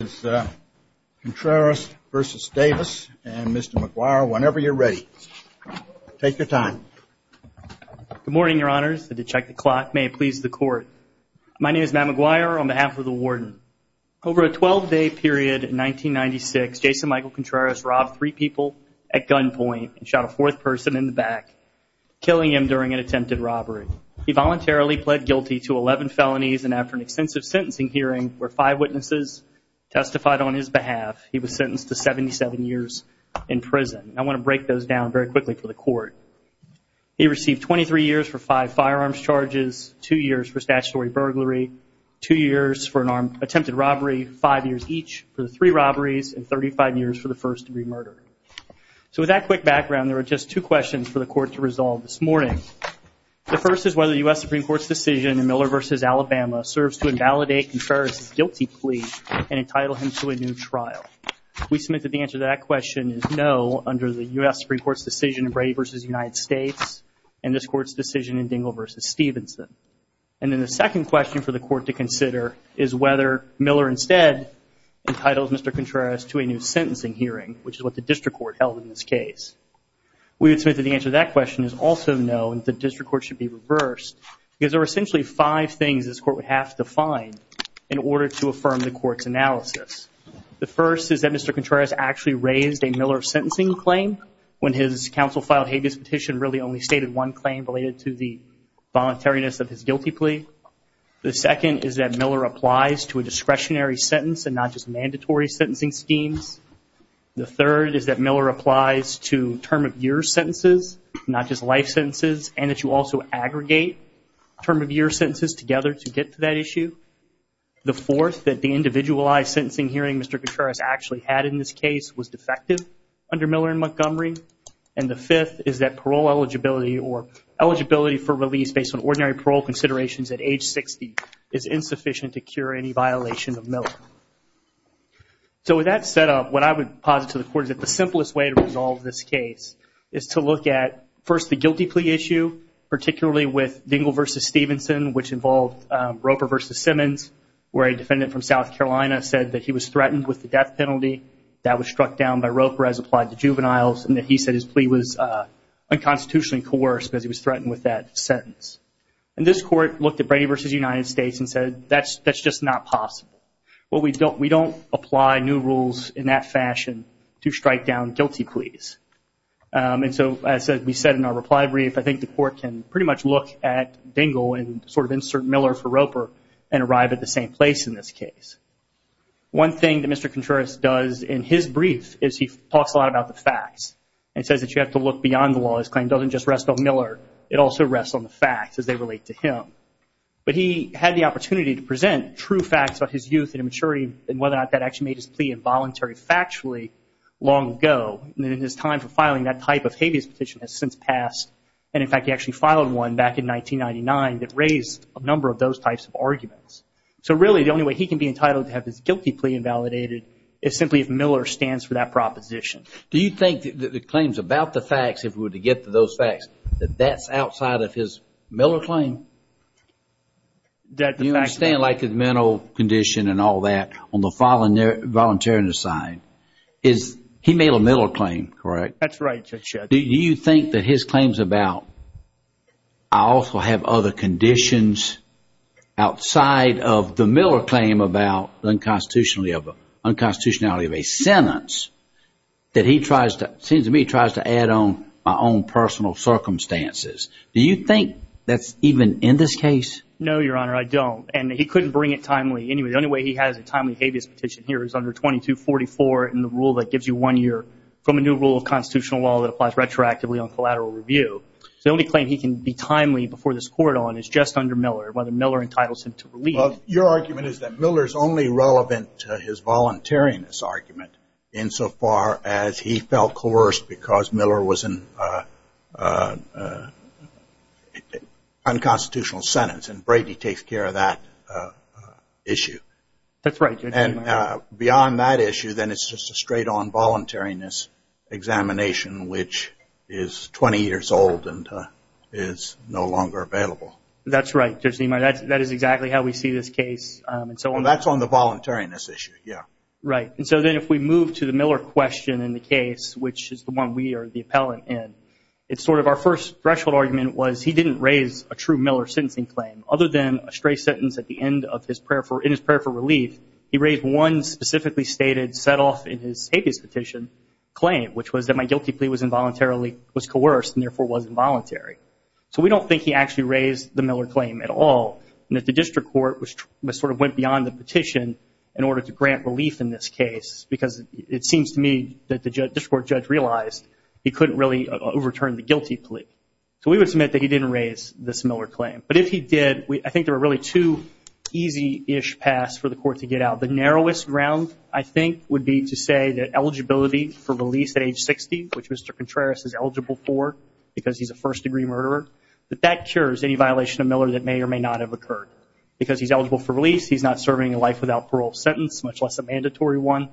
is Contreras versus Davis and Mr. McGuire whenever you're ready. Take your time. Good morning, your honors. I did check the clock. May it please the court. My name is Matt McGuire on behalf of the warden. Over a 12-day period in 1996, Jason Michael Contreras robbed three people at gunpoint and shot a fourth person in the back, killing him during an attempted robbery. He voluntarily pled guilty to 11 felonies and after an extensive sentencing hearing where five witnesses testified on his behalf, he was sentenced to 77 years in prison. I want to break those down very quickly for the court. He received 23 years for five firearms charges, two years for statutory burglary, two years for an attempted robbery, five years each for the three robberies, and 35 years for the first-degree murder. So with that quick background, there are just two questions for the court to resolve this morning. The first is whether the U.S. Supreme Court's decision in Miller versus Alabama serves to validate Contreras' guilty plea and entitle him to a new trial. We submit that the answer to that question is no under the U.S. Supreme Court's decision in Brady versus the United States and this Court's decision in Dingell versus Stevenson. And then the second question for the court to consider is whether Miller instead entitles Mr. Contreras to a new sentencing hearing, which is what the district court held in this case. We would submit that the answer to that question is also no and that the district court should be reversed because there are essentially five things this court would have to find in order to affirm the court's analysis. The first is that Mr. Contreras actually raised a Miller sentencing claim when his counsel filed habeas petition really only stated one claim related to the voluntariness of his guilty plea. The second is that Miller applies to a discretionary sentence and not just mandatory sentencing schemes. The third is that Miller applies to term of year sentences, not just life sentences, and that you also aggregate term of year sentences together to get to that issue. The fourth that the individualized sentencing hearing Mr. Contreras actually had in this case was defective under Miller and Montgomery. And the fifth is that parole eligibility or eligibility for release based on ordinary parole considerations at age 60 is insufficient to cure any violation of Miller. So with that set up, what I would posit to the court is that the simplest way to resolve this case is to look at first the guilty plea issue, particularly with Dingell v. Stevenson, which involved Roper v. Simmons, where a defendant from South Carolina said that he was threatened with the death penalty that was struck down by Roper as applied to juveniles and that he said his plea was unconstitutionally coerced because he was threatened with that sentence. And this court looked at Brady v. United States and said that's just not possible. Well, we don't apply new rules in that fashion to strike down guilty pleas. And so as we said in our reply brief, I think the court can pretty much look at Dingell and sort of insert Miller for Roper and arrive at the same place in this case. One thing that Mr. Contreras does in his brief is he talks a lot about the facts and says that you have to look beyond the law. His claim doesn't just rest on Miller. It also rests on the facts as they relate to him. But he had the opportunity to present true facts about his youth and immaturity and whether or not that actually made his plea involuntary factually long ago. And in his time for filing that type of habeas petition has since passed. And in fact, he actually filed one back in 1999 that raised a number of those types of arguments. So really, the only way he can be entitled to have his guilty plea invalidated is simply if Miller stands for that proposition. Do you think that the claims about the facts, if we were to get to those facts, that that's outside of his Miller claim? You understand, like his mental condition and all that, on the voluntary side, he made a Miller claim, correct? That's right. Do you think that his claims about, I also have other conditions outside of the Miller claim about unconstitutionality of a sentence, that he tries to, it seems to me, he tries to add on my own personal circumstances. Do you think that's even in this case? No, Your Honor, I don't. And he couldn't bring it timely. Anyway, the only way he has a timely habeas petition here is under 2244 in the rule that gives you one year from a new rule of constitutional law that applies retroactively on collateral review. So the only claim he can be timely before this court on is just under Miller, whether Miller entitles him to release. Well, your argument is that Miller's only relevant to his voluntariness argument insofar as he felt coerced because Miller was in an unconstitutional sentence, and Brady takes care of that issue. That's right. And beyond that issue, then it's just a straight-on voluntariness examination, which is 20 years old and is no longer available. That's right, Judge Niemeyer. That is exactly how we see this case, and so on. That's on the voluntariness issue, yeah. Right. And so then if we move to the Miller question in the case, which is the one we are the appellant in, it's sort of our first threshold argument was he didn't raise a true Miller sentencing claim other than a stray sentence at the end of his prayer for relief. He raised one specifically stated, set off in his habeas petition claim, which was that my guilty plea was coerced and therefore was involuntary. So we don't think he actually raised the Miller claim at all, and that the district court sort of went beyond the petition in order to grant relief in this case, because it seems to me that the district court judge realized he couldn't really overturn the guilty plea. So we would submit that he didn't raise this Miller claim, but if he did, I think there were really two easy-ish paths for the court to get out. The narrowest ground, I think, would be to say that eligibility for release at age 60, which Mr. Contreras is eligible for because he's a first-degree murderer, that that cures any violation of Miller that may or may not have occurred. Because he's eligible for release, he's not serving a life without parole sentence, much less a mandatory one,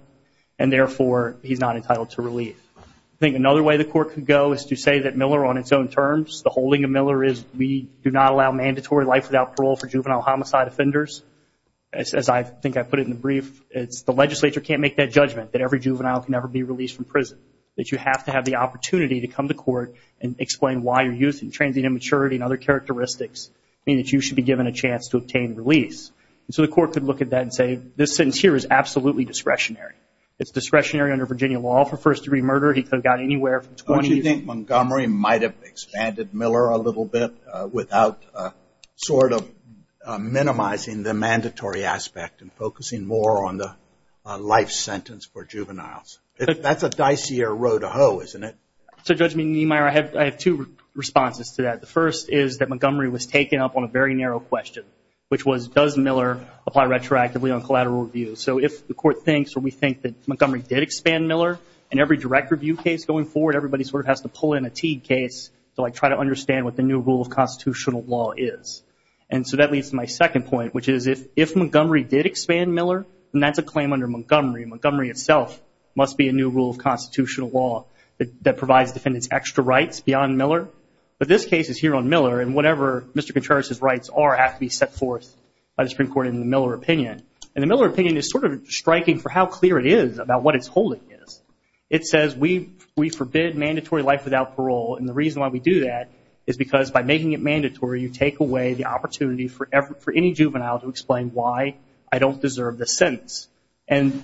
and therefore he's not entitled to relief. I think another way the court could go is to say that Miller on its own terms, the holding of Miller is we do not allow mandatory life without parole for juvenile homicide offenders. As I think I put it in the brief, it's the legislature can't make that judgment that every juvenile can never be released from prison, that you have to have the opportunity to come to court and explain why your youth and transient immaturity and other characteristics mean that you should be given a chance to obtain release. So the court could look at that and say, this sentence here is absolutely discretionary. It's discretionary under Virginia law. For first-degree murder, he could have gotten anywhere from 20 years. Don't you think Montgomery might have expanded Miller a little bit without sort of minimizing the mandatory aspect and focusing more on the life sentence for juveniles? That's a dicier row to hoe, isn't it? So, Judge Meemeyer, I have two responses to that. The first is that Montgomery was taken up on a very narrow question, which was does Miller apply retroactively on collateral review? So if the court thinks or we think that Montgomery did expand Miller, in every direct review case going forward, everybody sort of has to pull in a Teague case to try to understand what the new rule of constitutional law is. And so that leads to my second point, which is if Montgomery did expand Miller, then that's a claim under Montgomery. Montgomery itself must be a new rule of constitutional law that provides defendants extra rights beyond Miller. But this case is here on Miller, and whatever Mr. Contreras's rights are have to be set forth by the Supreme Court in the Miller opinion. And the Miller opinion is sort of striking for how clear it is about what its holding is. It says we forbid mandatory life without parole, and the reason why we do that is because by making it mandatory, you take away the opportunity for any juvenile to explain why I don't deserve the sentence. And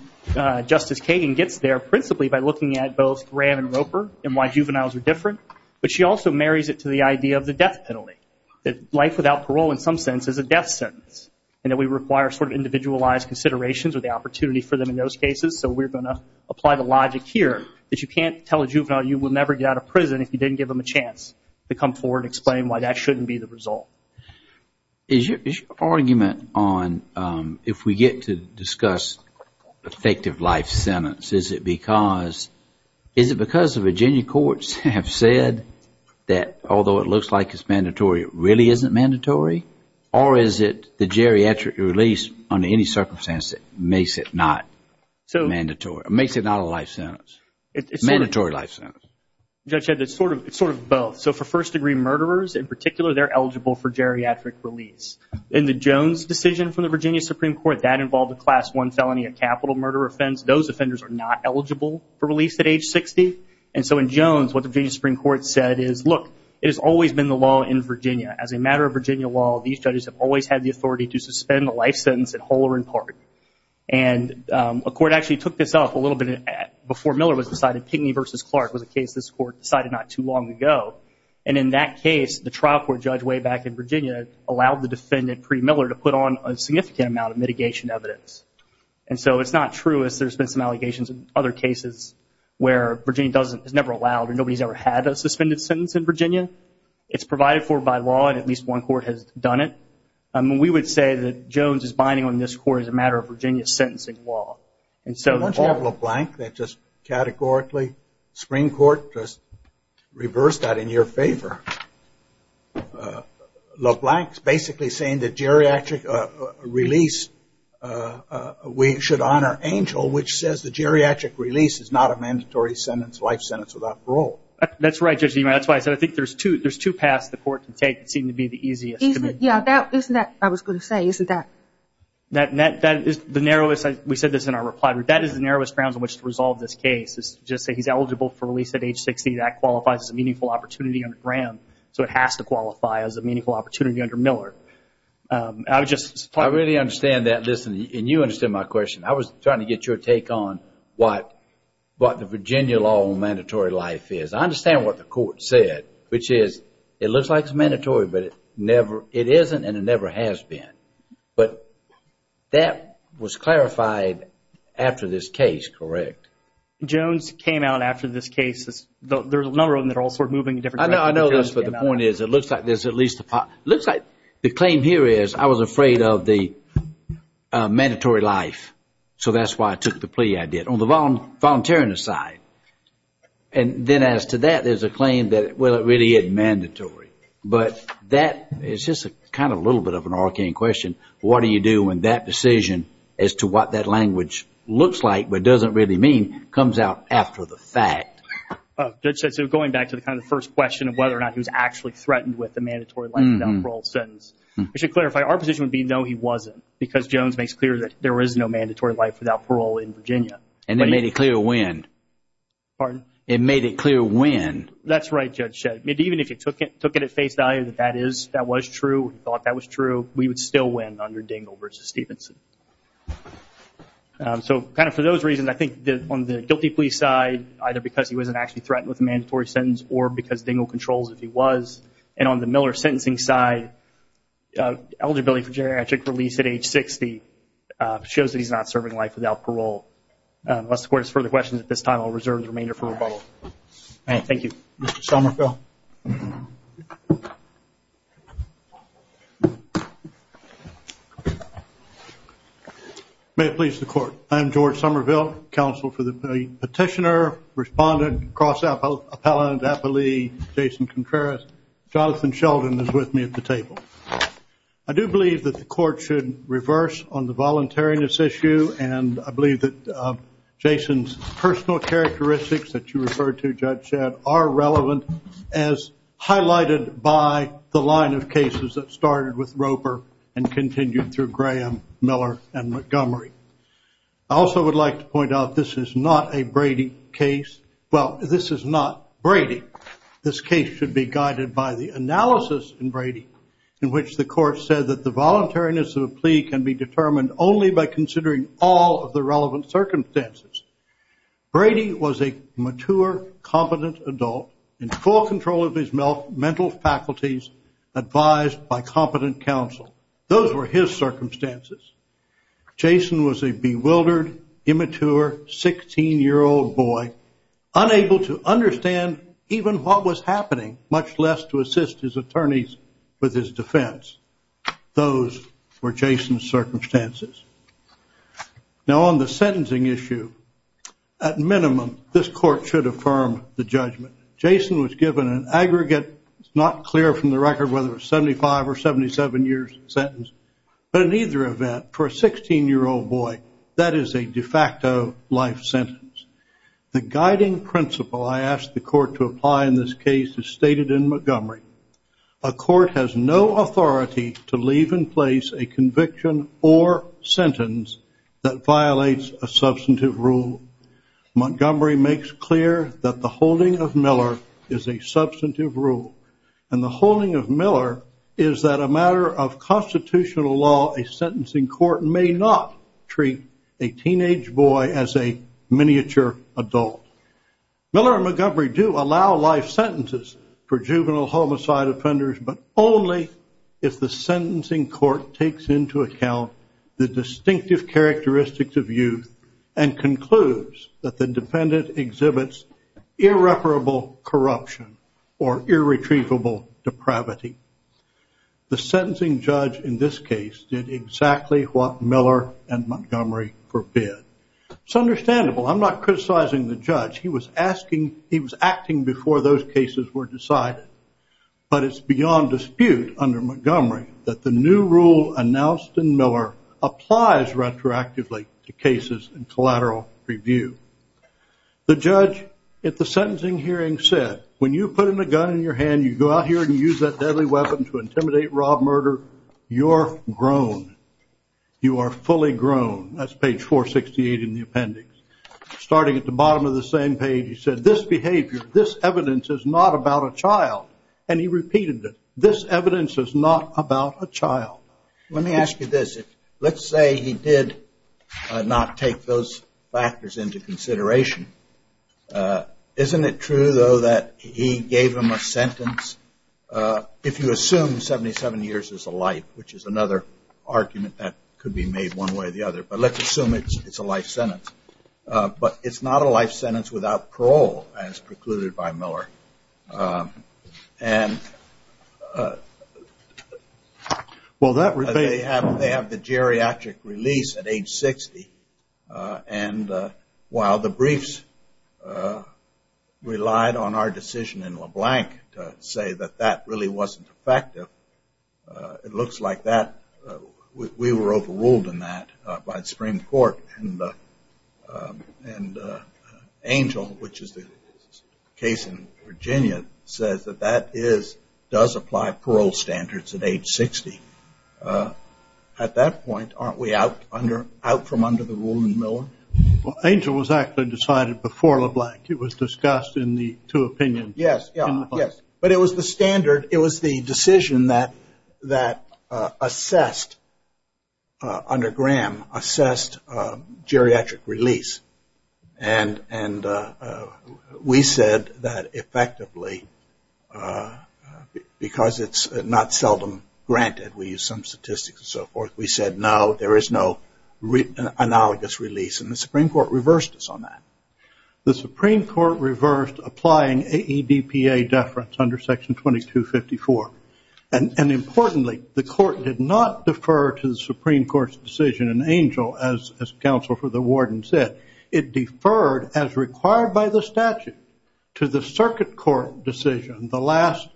Justice Kagan gets there principally by looking at both Graham and Roper and why juveniles are different. But she also marries it to the idea of the death penalty, that life without parole in some sense is a death sentence, and that we require sort of individualized considerations or the opportunity for them in those cases. So we're going to apply the logic here that you can't tell a juvenile you will never get out of prison if you didn't give them a chance to come forward and explain why that shouldn't be the result. Is your argument on if we get to discuss effective life sentence, is it because of Virginia courts? Have said that although it looks like it's mandatory, it really isn't mandatory? Or is it the geriatric release under any circumstances that makes it not mandatory? Makes it not a life sentence? Mandatory life sentence? Judge Ed, it's sort of both. So for first degree murderers in particular, they're eligible for geriatric release. In the Jones decision from the Virginia Supreme Court, that involved a class 1 felony, a capital murder offense. Those offenders are not eligible for release at age 60. And so in Jones, what the Virginia Supreme Court said is, look, it has always been the law in Virginia. As a matter of Virginia law, these judges have always had the authority to suspend the life sentence at whole or in part. And a court actually took this up a little bit before Miller was decided. Pinckney v. Clark was a case this court decided not too long ago. And in that case, the trial court judge way back in Virginia allowed the defendant, Pree Miller, to put on a significant amount of mitigation evidence. And so it's not true as there's been some allegations in other cases where Virginia doesn't, is never allowed, or nobody's ever had a suspended sentence in Virginia. It's provided for by law, and at least one court has done it. We would say that Jones is binding on this court as a matter of Virginia sentencing law. And so- Why don't you have LeBlanc that just categorically, Supreme Court, just reverse that in your favor. LeBlanc's basically saying that geriatric release, we should honor Angel, which says the geriatric release is not a mandatory sentence, life sentence, without parole. That's right, Judge Niemeyer. That's why I said, I think there's two paths the court can take that seem to be the easiest to me. Yeah, that, isn't that, I was going to say, isn't that- That is the narrowest, we said this in our reply, that is the narrowest grounds on which to resolve this case, is to just say he's eligible for release at age 60, that qualifies as a meaningful opportunity under Graham, so it has to qualify as a meaningful opportunity under Miller. I would just- I really understand that, listen, and you understand my question. I was trying to get your take on what the Virginia law on mandatory life is. I understand what the court said, which is, it looks like it's mandatory, but it never, it isn't, and it never has been. But that was clarified after this case, correct? Jones came out after this case, there's a number of them that are all sort of moving in different directions. I know this, but the point is, it looks like there's at least, it looks like the claim here is, I was afraid of the mandatory life, so that's why I took the plea I did, on the volunteer side, and then as to that, there's a claim that, well, it really is mandatory, but that is just kind of a little bit of an arcane question, what do you do in that decision as to what that language looks like, but doesn't really mean, comes out after the fact. Judge, so going back to the kind of first question of whether or not he was actually threatened with a mandatory life without parole sentence, I should clarify, our position would be, no, he wasn't, because Jones makes clear that there is no mandatory life without parole in Virginia. And they made it clear when? Pardon? It made it clear when? That's right, Judge Shedd. Even if you took it at face value that that is, that was true, thought that was true, we would still win under Dingell versus Stevenson. So kind of for those reasons, I think on the guilty plea side, either because he wasn't actually threatened with a mandatory sentence, or because Dingell controls if he was, and on the Miller sentencing side, eligibility for geriatric release at age 60 shows that he's not serving life without parole. Unless the court has further questions at this time, I'll reserve the remainder for rebuttal. All right, thank you. Mr. Somerville. May it please the court, I am George Somerville, counsel for the petitioner, respondent, cross appellate, appellee, Jason Contreras. Jonathan Sheldon is with me at the table. I do believe that the court should reverse on the voluntariness issue, and I believe that Jason's personal characteristics that you referred to, Judge Shedd, are relevant as highlighted by the line of cases that started with Roper and continued through Graham, Miller, and Montgomery. I also would like to point out this is not a Brady case. Well, this is not Brady. This case should be guided by the analysis in Brady, in which the court said that the circumstances, Brady was a mature, competent adult in full control of his mental faculties advised by competent counsel. Those were his circumstances. Jason was a bewildered, immature, 16-year-old boy, unable to understand even what was happening, much less to assist his attorneys with his defense. Those were Jason's circumstances. Now, on the sentencing issue, at minimum, this court should affirm the judgment. Jason was given an aggregate, it's not clear from the record whether it's 75 or 77 years sentence, but in either event, for a 16-year-old boy, that is a de facto life sentence. The guiding principle I asked the court to apply in this case is stated in Montgomery. A court has no authority to leave in place a conviction or sentence that violates a substantive rule. Montgomery makes clear that the holding of Miller is a substantive rule, and the holding of Miller is that a matter of constitutional law, a sentencing court may not treat a teenage boy as a miniature adult. Miller and Montgomery do allow life sentences for juvenile homicide offenders, but only if the sentencing court takes into account the distinctive characteristics of youth and concludes that the defendant exhibits irreparable corruption or irretrievable depravity. The sentencing judge in this case did exactly what Miller and Montgomery forbid. It's understandable, I'm not criticizing the judge, he was acting before those cases were decided, but it's beyond dispute under Montgomery that the new rule announced in Miller applies retroactively to cases in collateral review. The judge at the sentencing hearing said, when you put in a gun in your hand, you go out here and use that deadly weapon to intimidate, rob, murder, you're grown. You are fully grown. That's page 468 in the appendix. Starting at the bottom of the same page, he said, this behavior, this evidence is not about a child. And he repeated it. This evidence is not about a child. Let me ask you this. Let's say he did not take those factors into consideration. Isn't it true, though, that he gave him a sentence, if you assume 77 years is a life, which is another argument that could be made one way or the other, but let's assume it's a life sentence. But it's not a life sentence without parole, as precluded by Miller. They have the geriatric release at age 60, and while the briefs relied on our decision in LeBlanc to say that that really wasn't effective, it looks like that, we were overruled in that by the Supreme Court, and Angel, which is the case in Virginia, says that that does apply parole standards at age 60. At that point, aren't we out from under the rule in Miller? Angel was actually decided before LeBlanc. It was discussed in the two opinions. Yes, but it was the standard. It was the decision that assessed, under Graham, assessed geriatric release, and we said that effectively, because it's not seldom granted, we use some statistics and so forth, we said, no, there is no analogous release, and the Supreme Court reversed us on that. The Supreme Court reversed applying AEDPA deference under section 2254, and importantly, the court did not defer to the Supreme Court's decision, and Angel, as counsel for the warden said, it deferred as required by the statute to the circuit court decision, the last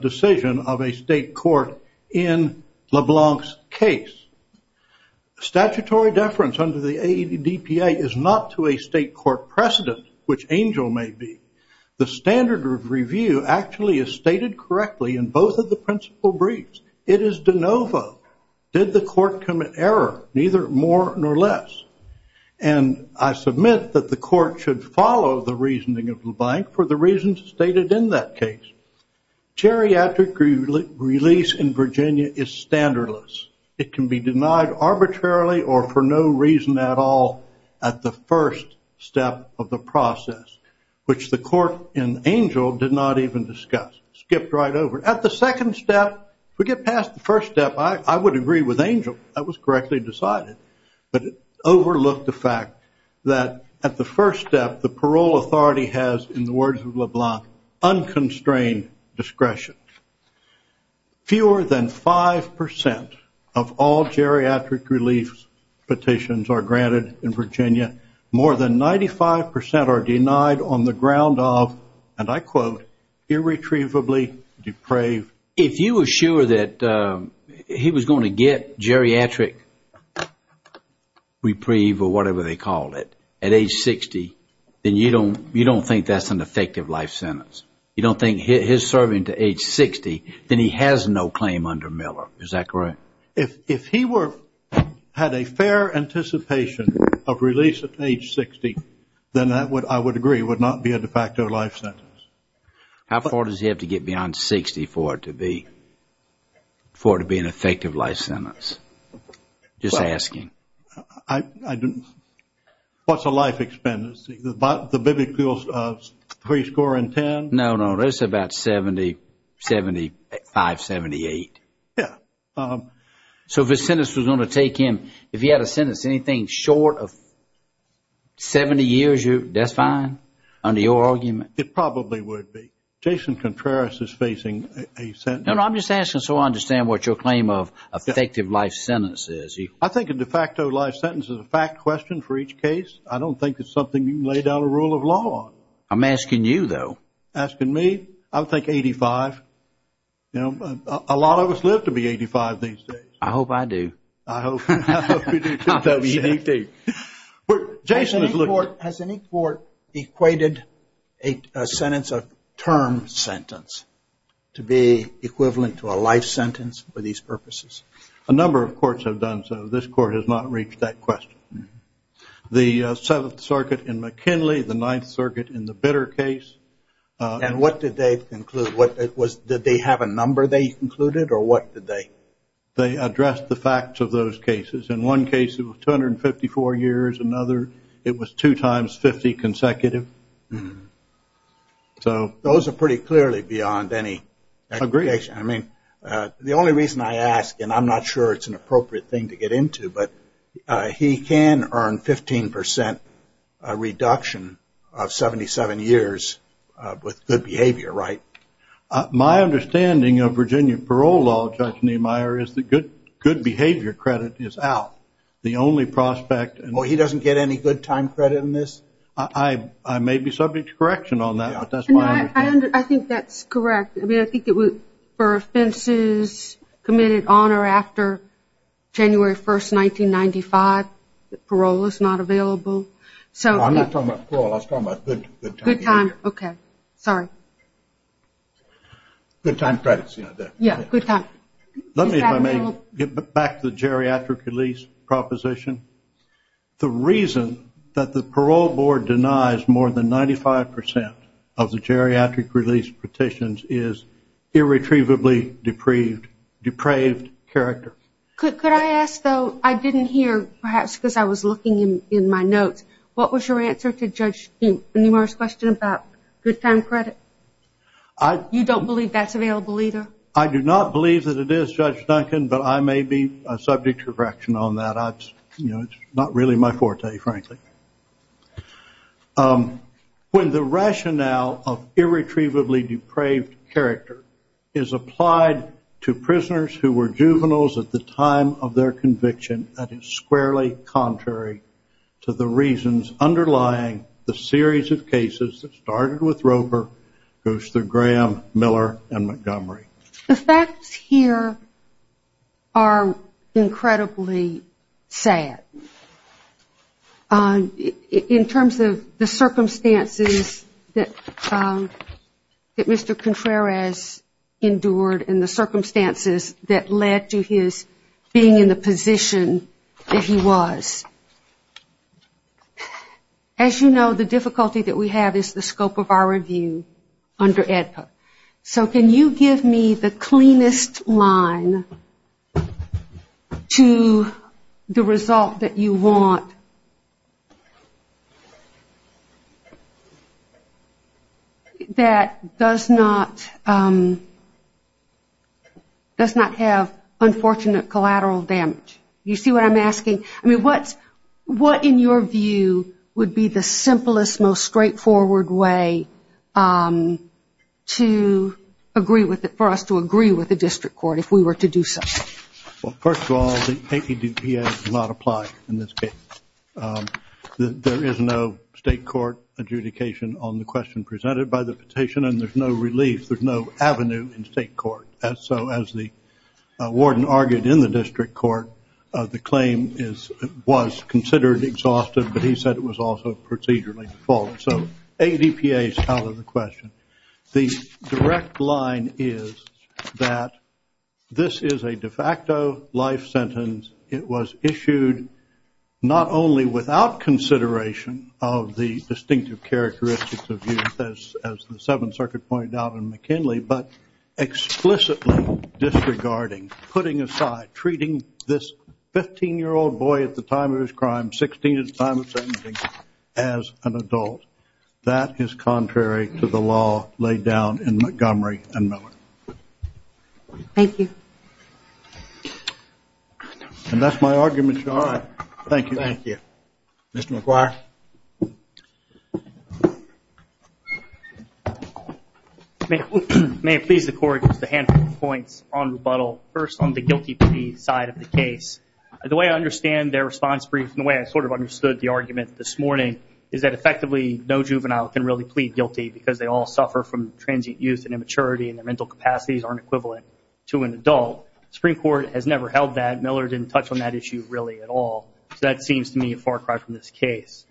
decision of a state court in LeBlanc's case. Statutory deference under the AEDPA is not to a state court precedent, which Angel may be. The standard of review actually is stated correctly in both of the principal briefs. It is de novo. Did the court commit error? Neither more nor less, and I submit that the court should follow the reasoning of LeBlanc for the reasons stated in that case. Geriatric release in Virginia is standardless. It can be denied arbitrarily or for no reason at all at the first step of the process, which the court in Angel did not even discuss, skipped right over. At the second step, if we get past the first step, I would agree with Angel. That was correctly decided, but it overlooked the fact that at the first step, the parole authority has, in the words of LeBlanc, unconstrained discretion. Fewer than 5% of all geriatric release petitions are granted in Virginia. More than 95% are denied on the ground of, and I quote, irretrievably depraved. If you were sure that he was going to get geriatric reprieve or whatever they call it at age 60, then you don't think that's an effective life sentence. You don't think his serving to age 60, then he has no claim under Miller. Is that correct? If he were, had a fair anticipation of release at age 60, then that would, I would agree, would not be a defacto life sentence. How far does he have to get beyond 60 for it to be, for it to be an effective life sentence? Just asking. I don't, what's a life expenditure? The biblical three score and ten? No, no, it's about 70, 75, 78. Yeah. So if a sentence was going to take him, if he had a sentence, anything short of 70 years, that's fine under your argument? It probably would be. Jason Contreras is facing a sentence. No, no, I'm just asking so I understand what your claim of effective life sentence is. I think a defacto life sentence is a fact question for each case. I don't think it's something you can lay down a rule of law on. I'm asking you though. Asking me? I would think 85. You know, a lot of us live to be 85 these days. I hope I do. I hope you do too, WBP. Well, Jason is looking. Has any court equated a sentence, a term sentence, to be equivalent to a life sentence for these purposes? A number of courts have done so. This court has not reached that question. The Seventh Circuit in McKinley, the Ninth Circuit in the Bitter case. And what did they conclude? Did they have a number they concluded or what did they? They addressed the facts of those cases. In one case it was 254 years, another it was two times 50 consecutive. Those are pretty clearly beyond any expectation. I mean, the only reason I ask, and I'm not sure it's an appropriate thing to get into, but he can earn 15% reduction of 77 years with good behavior, right? My understanding of Virginia parole law, Judge Niemeyer, is that good behavior credit is out. The only prospect. Oh, he doesn't get any good time credit in this? I may be subject to correction on that, but that's my understanding. I think that's correct. I mean, I think for offenses committed on or after January 1st, 1995, parole is not available. I'm not talking about parole, I'm talking about good time. Good time, okay. Sorry. Good time credits. Yeah, good time. Let me, if I may, get back to the geriatric release proposition. The reason that the parole board denies more than 95% of the geriatric release petitions is irretrievably depraved character. Could I ask, though, I didn't hear, perhaps because I was looking in my notes, what was your answer to Judge Niemeyer's question about good time credit? You don't believe that's available either? I do not believe that it is, Judge Duncan, but I may be subject to correction on that. It's not really my forte, frankly. When the rationale of irretrievably depraved character is applied to prisoners who were juveniles at the time of their conviction, that is squarely contrary to the reasons underlying the series of cases that started with Roper, Guster, Graham, Miller, and Montgomery. The facts here are incredibly sad. In terms of the circumstances that Mr. Contreras endured and the circumstances that led to his being in the position that he was. As you know, the difficulty that we have is the scope of our review under AEDPA. So can you give me the cleanest line to the result that you want that does not have unfortunate collateral damage? You see what I'm asking? What in your view would be the simplest, most straightforward way to agree with it, for us to agree with the district court if we were to do so? First of all, the AEDPA does not apply in this case. There is no state court adjudication on the question presented by the petition and there's no relief, there's no avenue in state court. So as the warden argued in the district court, the claim was considered exhaustive but he said it was also procedurally default. So AEDPA is out of the question. The direct line is that this is a de facto life sentence. It was issued not only without consideration of the distinctive characteristics of youth, as the Seventh Circuit pointed out in McKinley, but explicitly disregarding, putting aside, treating this 15-year-old boy at the time of his crime, 16 at the time of his crime, as an adult. That is contrary to the law laid down in Montgomery and Miller. Thank you. And that's my argument, Your Honor. Thank you. Thank you. Mr. McGuire. May it please the Court, just a handful of points on rebuttal. First on the guilty plea side of the case. The way I understand their response brief and the way I sort of understood the argument this morning is that effectively no juvenile can really plead guilty because they all suffer from transient youth and immaturity and their mental capacities aren't equivalent to an adult. The Supreme Court has never held that. Miller didn't touch on that issue really at all. So that seems to me a far cry from this case.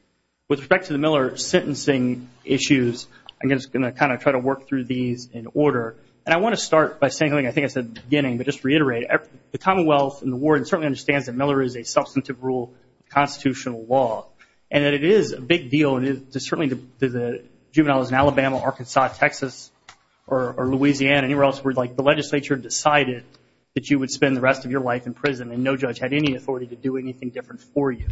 With respect to the Miller sentencing issues, I'm just going to kind of try to work through these in order. And I want to start by saying something I think I said at the beginning, but just reiterate. The Commonwealth and the ward certainly understands that Miller is a substantive rule of constitutional law and that it is a big deal. Certainly the juveniles in Alabama, Arkansas, Texas, or Louisiana, anywhere else where the legislature decided that you would spend the rest of your life in prison and no judge had any authority to do anything different for you.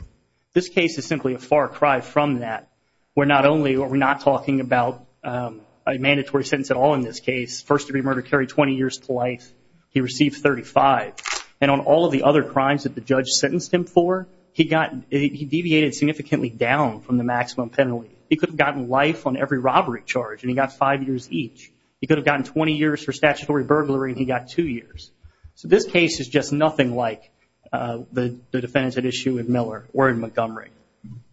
This case is simply a far cry from that. We're not talking about a mandatory sentence at all in this case. Miller's first-degree murder carried 20 years to life. He received 35. And on all of the other crimes that the judge sentenced him for, he deviated significantly down from the maximum penalty. He could have gotten life on every robbery charge, and he got five years each. He could have gotten 20 years for statutory burglary, and he got two years. So this case is just nothing like the defendant at issue in Miller or in Montgomery.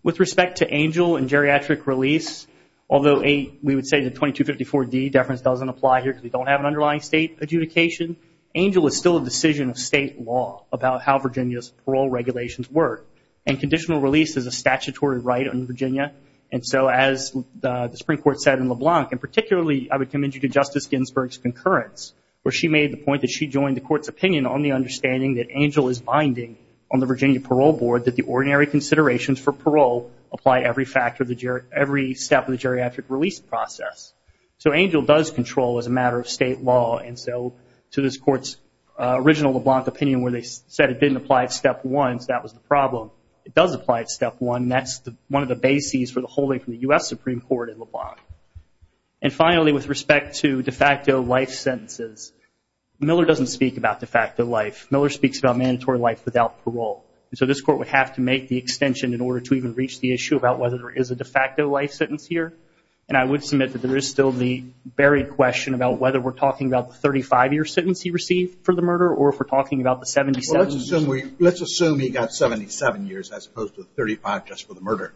With respect to ANGEL and geriatric release, although we would say the 2254D deference doesn't apply here because we don't have an underlying state adjudication, ANGEL is still a decision of state law about how Virginia's parole regulations work. And conditional release is a statutory right under Virginia. And so as the Supreme Court said in LeBlanc, and particularly I would commend you to Justice Ginsburg's concurrence, where she made the point that she joined the Court's opinion on the understanding that ANGEL is binding on the Virginia Parole Board that the ordinary considerations for parole apply every step of the geriatric release process. So ANGEL does control as a matter of state law. And so to this Court's original LeBlanc opinion where they said it didn't apply at Step 1, so that was the problem. It does apply at Step 1, and that's one of the bases for the holding from the U.S. is Miller doesn't speak about de facto life. Miller speaks about mandatory life without parole. And so this Court would have to make the extension in order to even reach the issue about whether there is a de facto life sentence here. And I would submit that there is still the buried question about whether we're talking about the 35-year sentence he received for the murder or if we're talking about the 77 years. Well, let's assume he got 77 years as opposed to the 35 just for the murder.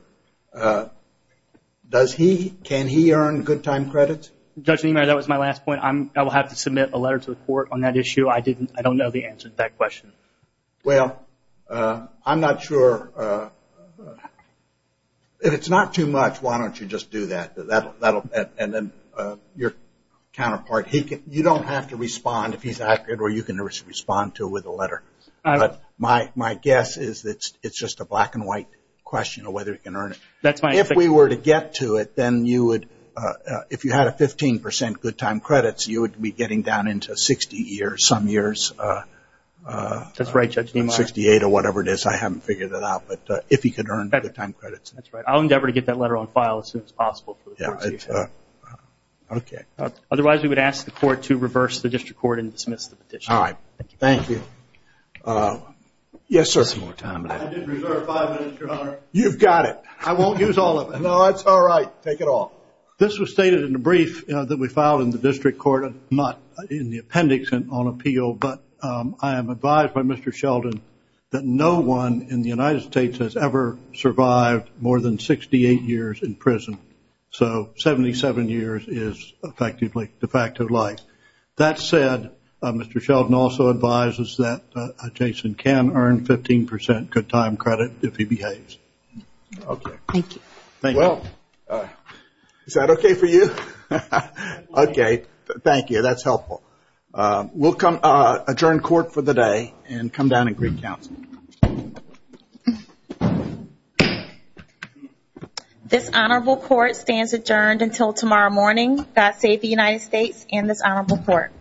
Does he, can he earn good time credits? Judge Niemeyer, that was my last point. I will have to submit a letter to the Court on that issue. I don't know the answer to that question. Well, I'm not sure. If it's not too much, why don't you just do that? And then your counterpart, you don't have to respond if he's accurate or you can respond to it with a letter. But my guess is that it's just a black and white question of whether he can earn it. If we were to get to it, then you would, if you had a 15% good time credits, you would be getting down into 60 years, some years. That's right, Judge Niemeyer. 68 or whatever it is. I haven't figured it out. But if he could earn good time credits. That's right. I'll endeavor to get that letter on file as soon as possible. Otherwise, we would ask the Court to reverse the District Court and dismiss the petition. All right. Thank you. You've got it. I won't use all of it. No, it's all right. Take it off. This was stated in the brief that we filed in the District Court, not in the appendix on appeal, but I am advised by Mr. Sheldon that no one in the United States has ever survived more than 68 years in prison. So 77 years is effectively de facto life. That said, Mr. Sheldon also advises that Jason can earn 15% good time credit if he behaves. Okay. Thank you. Is that okay for you? Okay. Thank you. That's helpful. We'll adjourn court for the day and come down and greet counsel. This honorable court stands adjourned until tomorrow morning. God save the United States and this honorable court.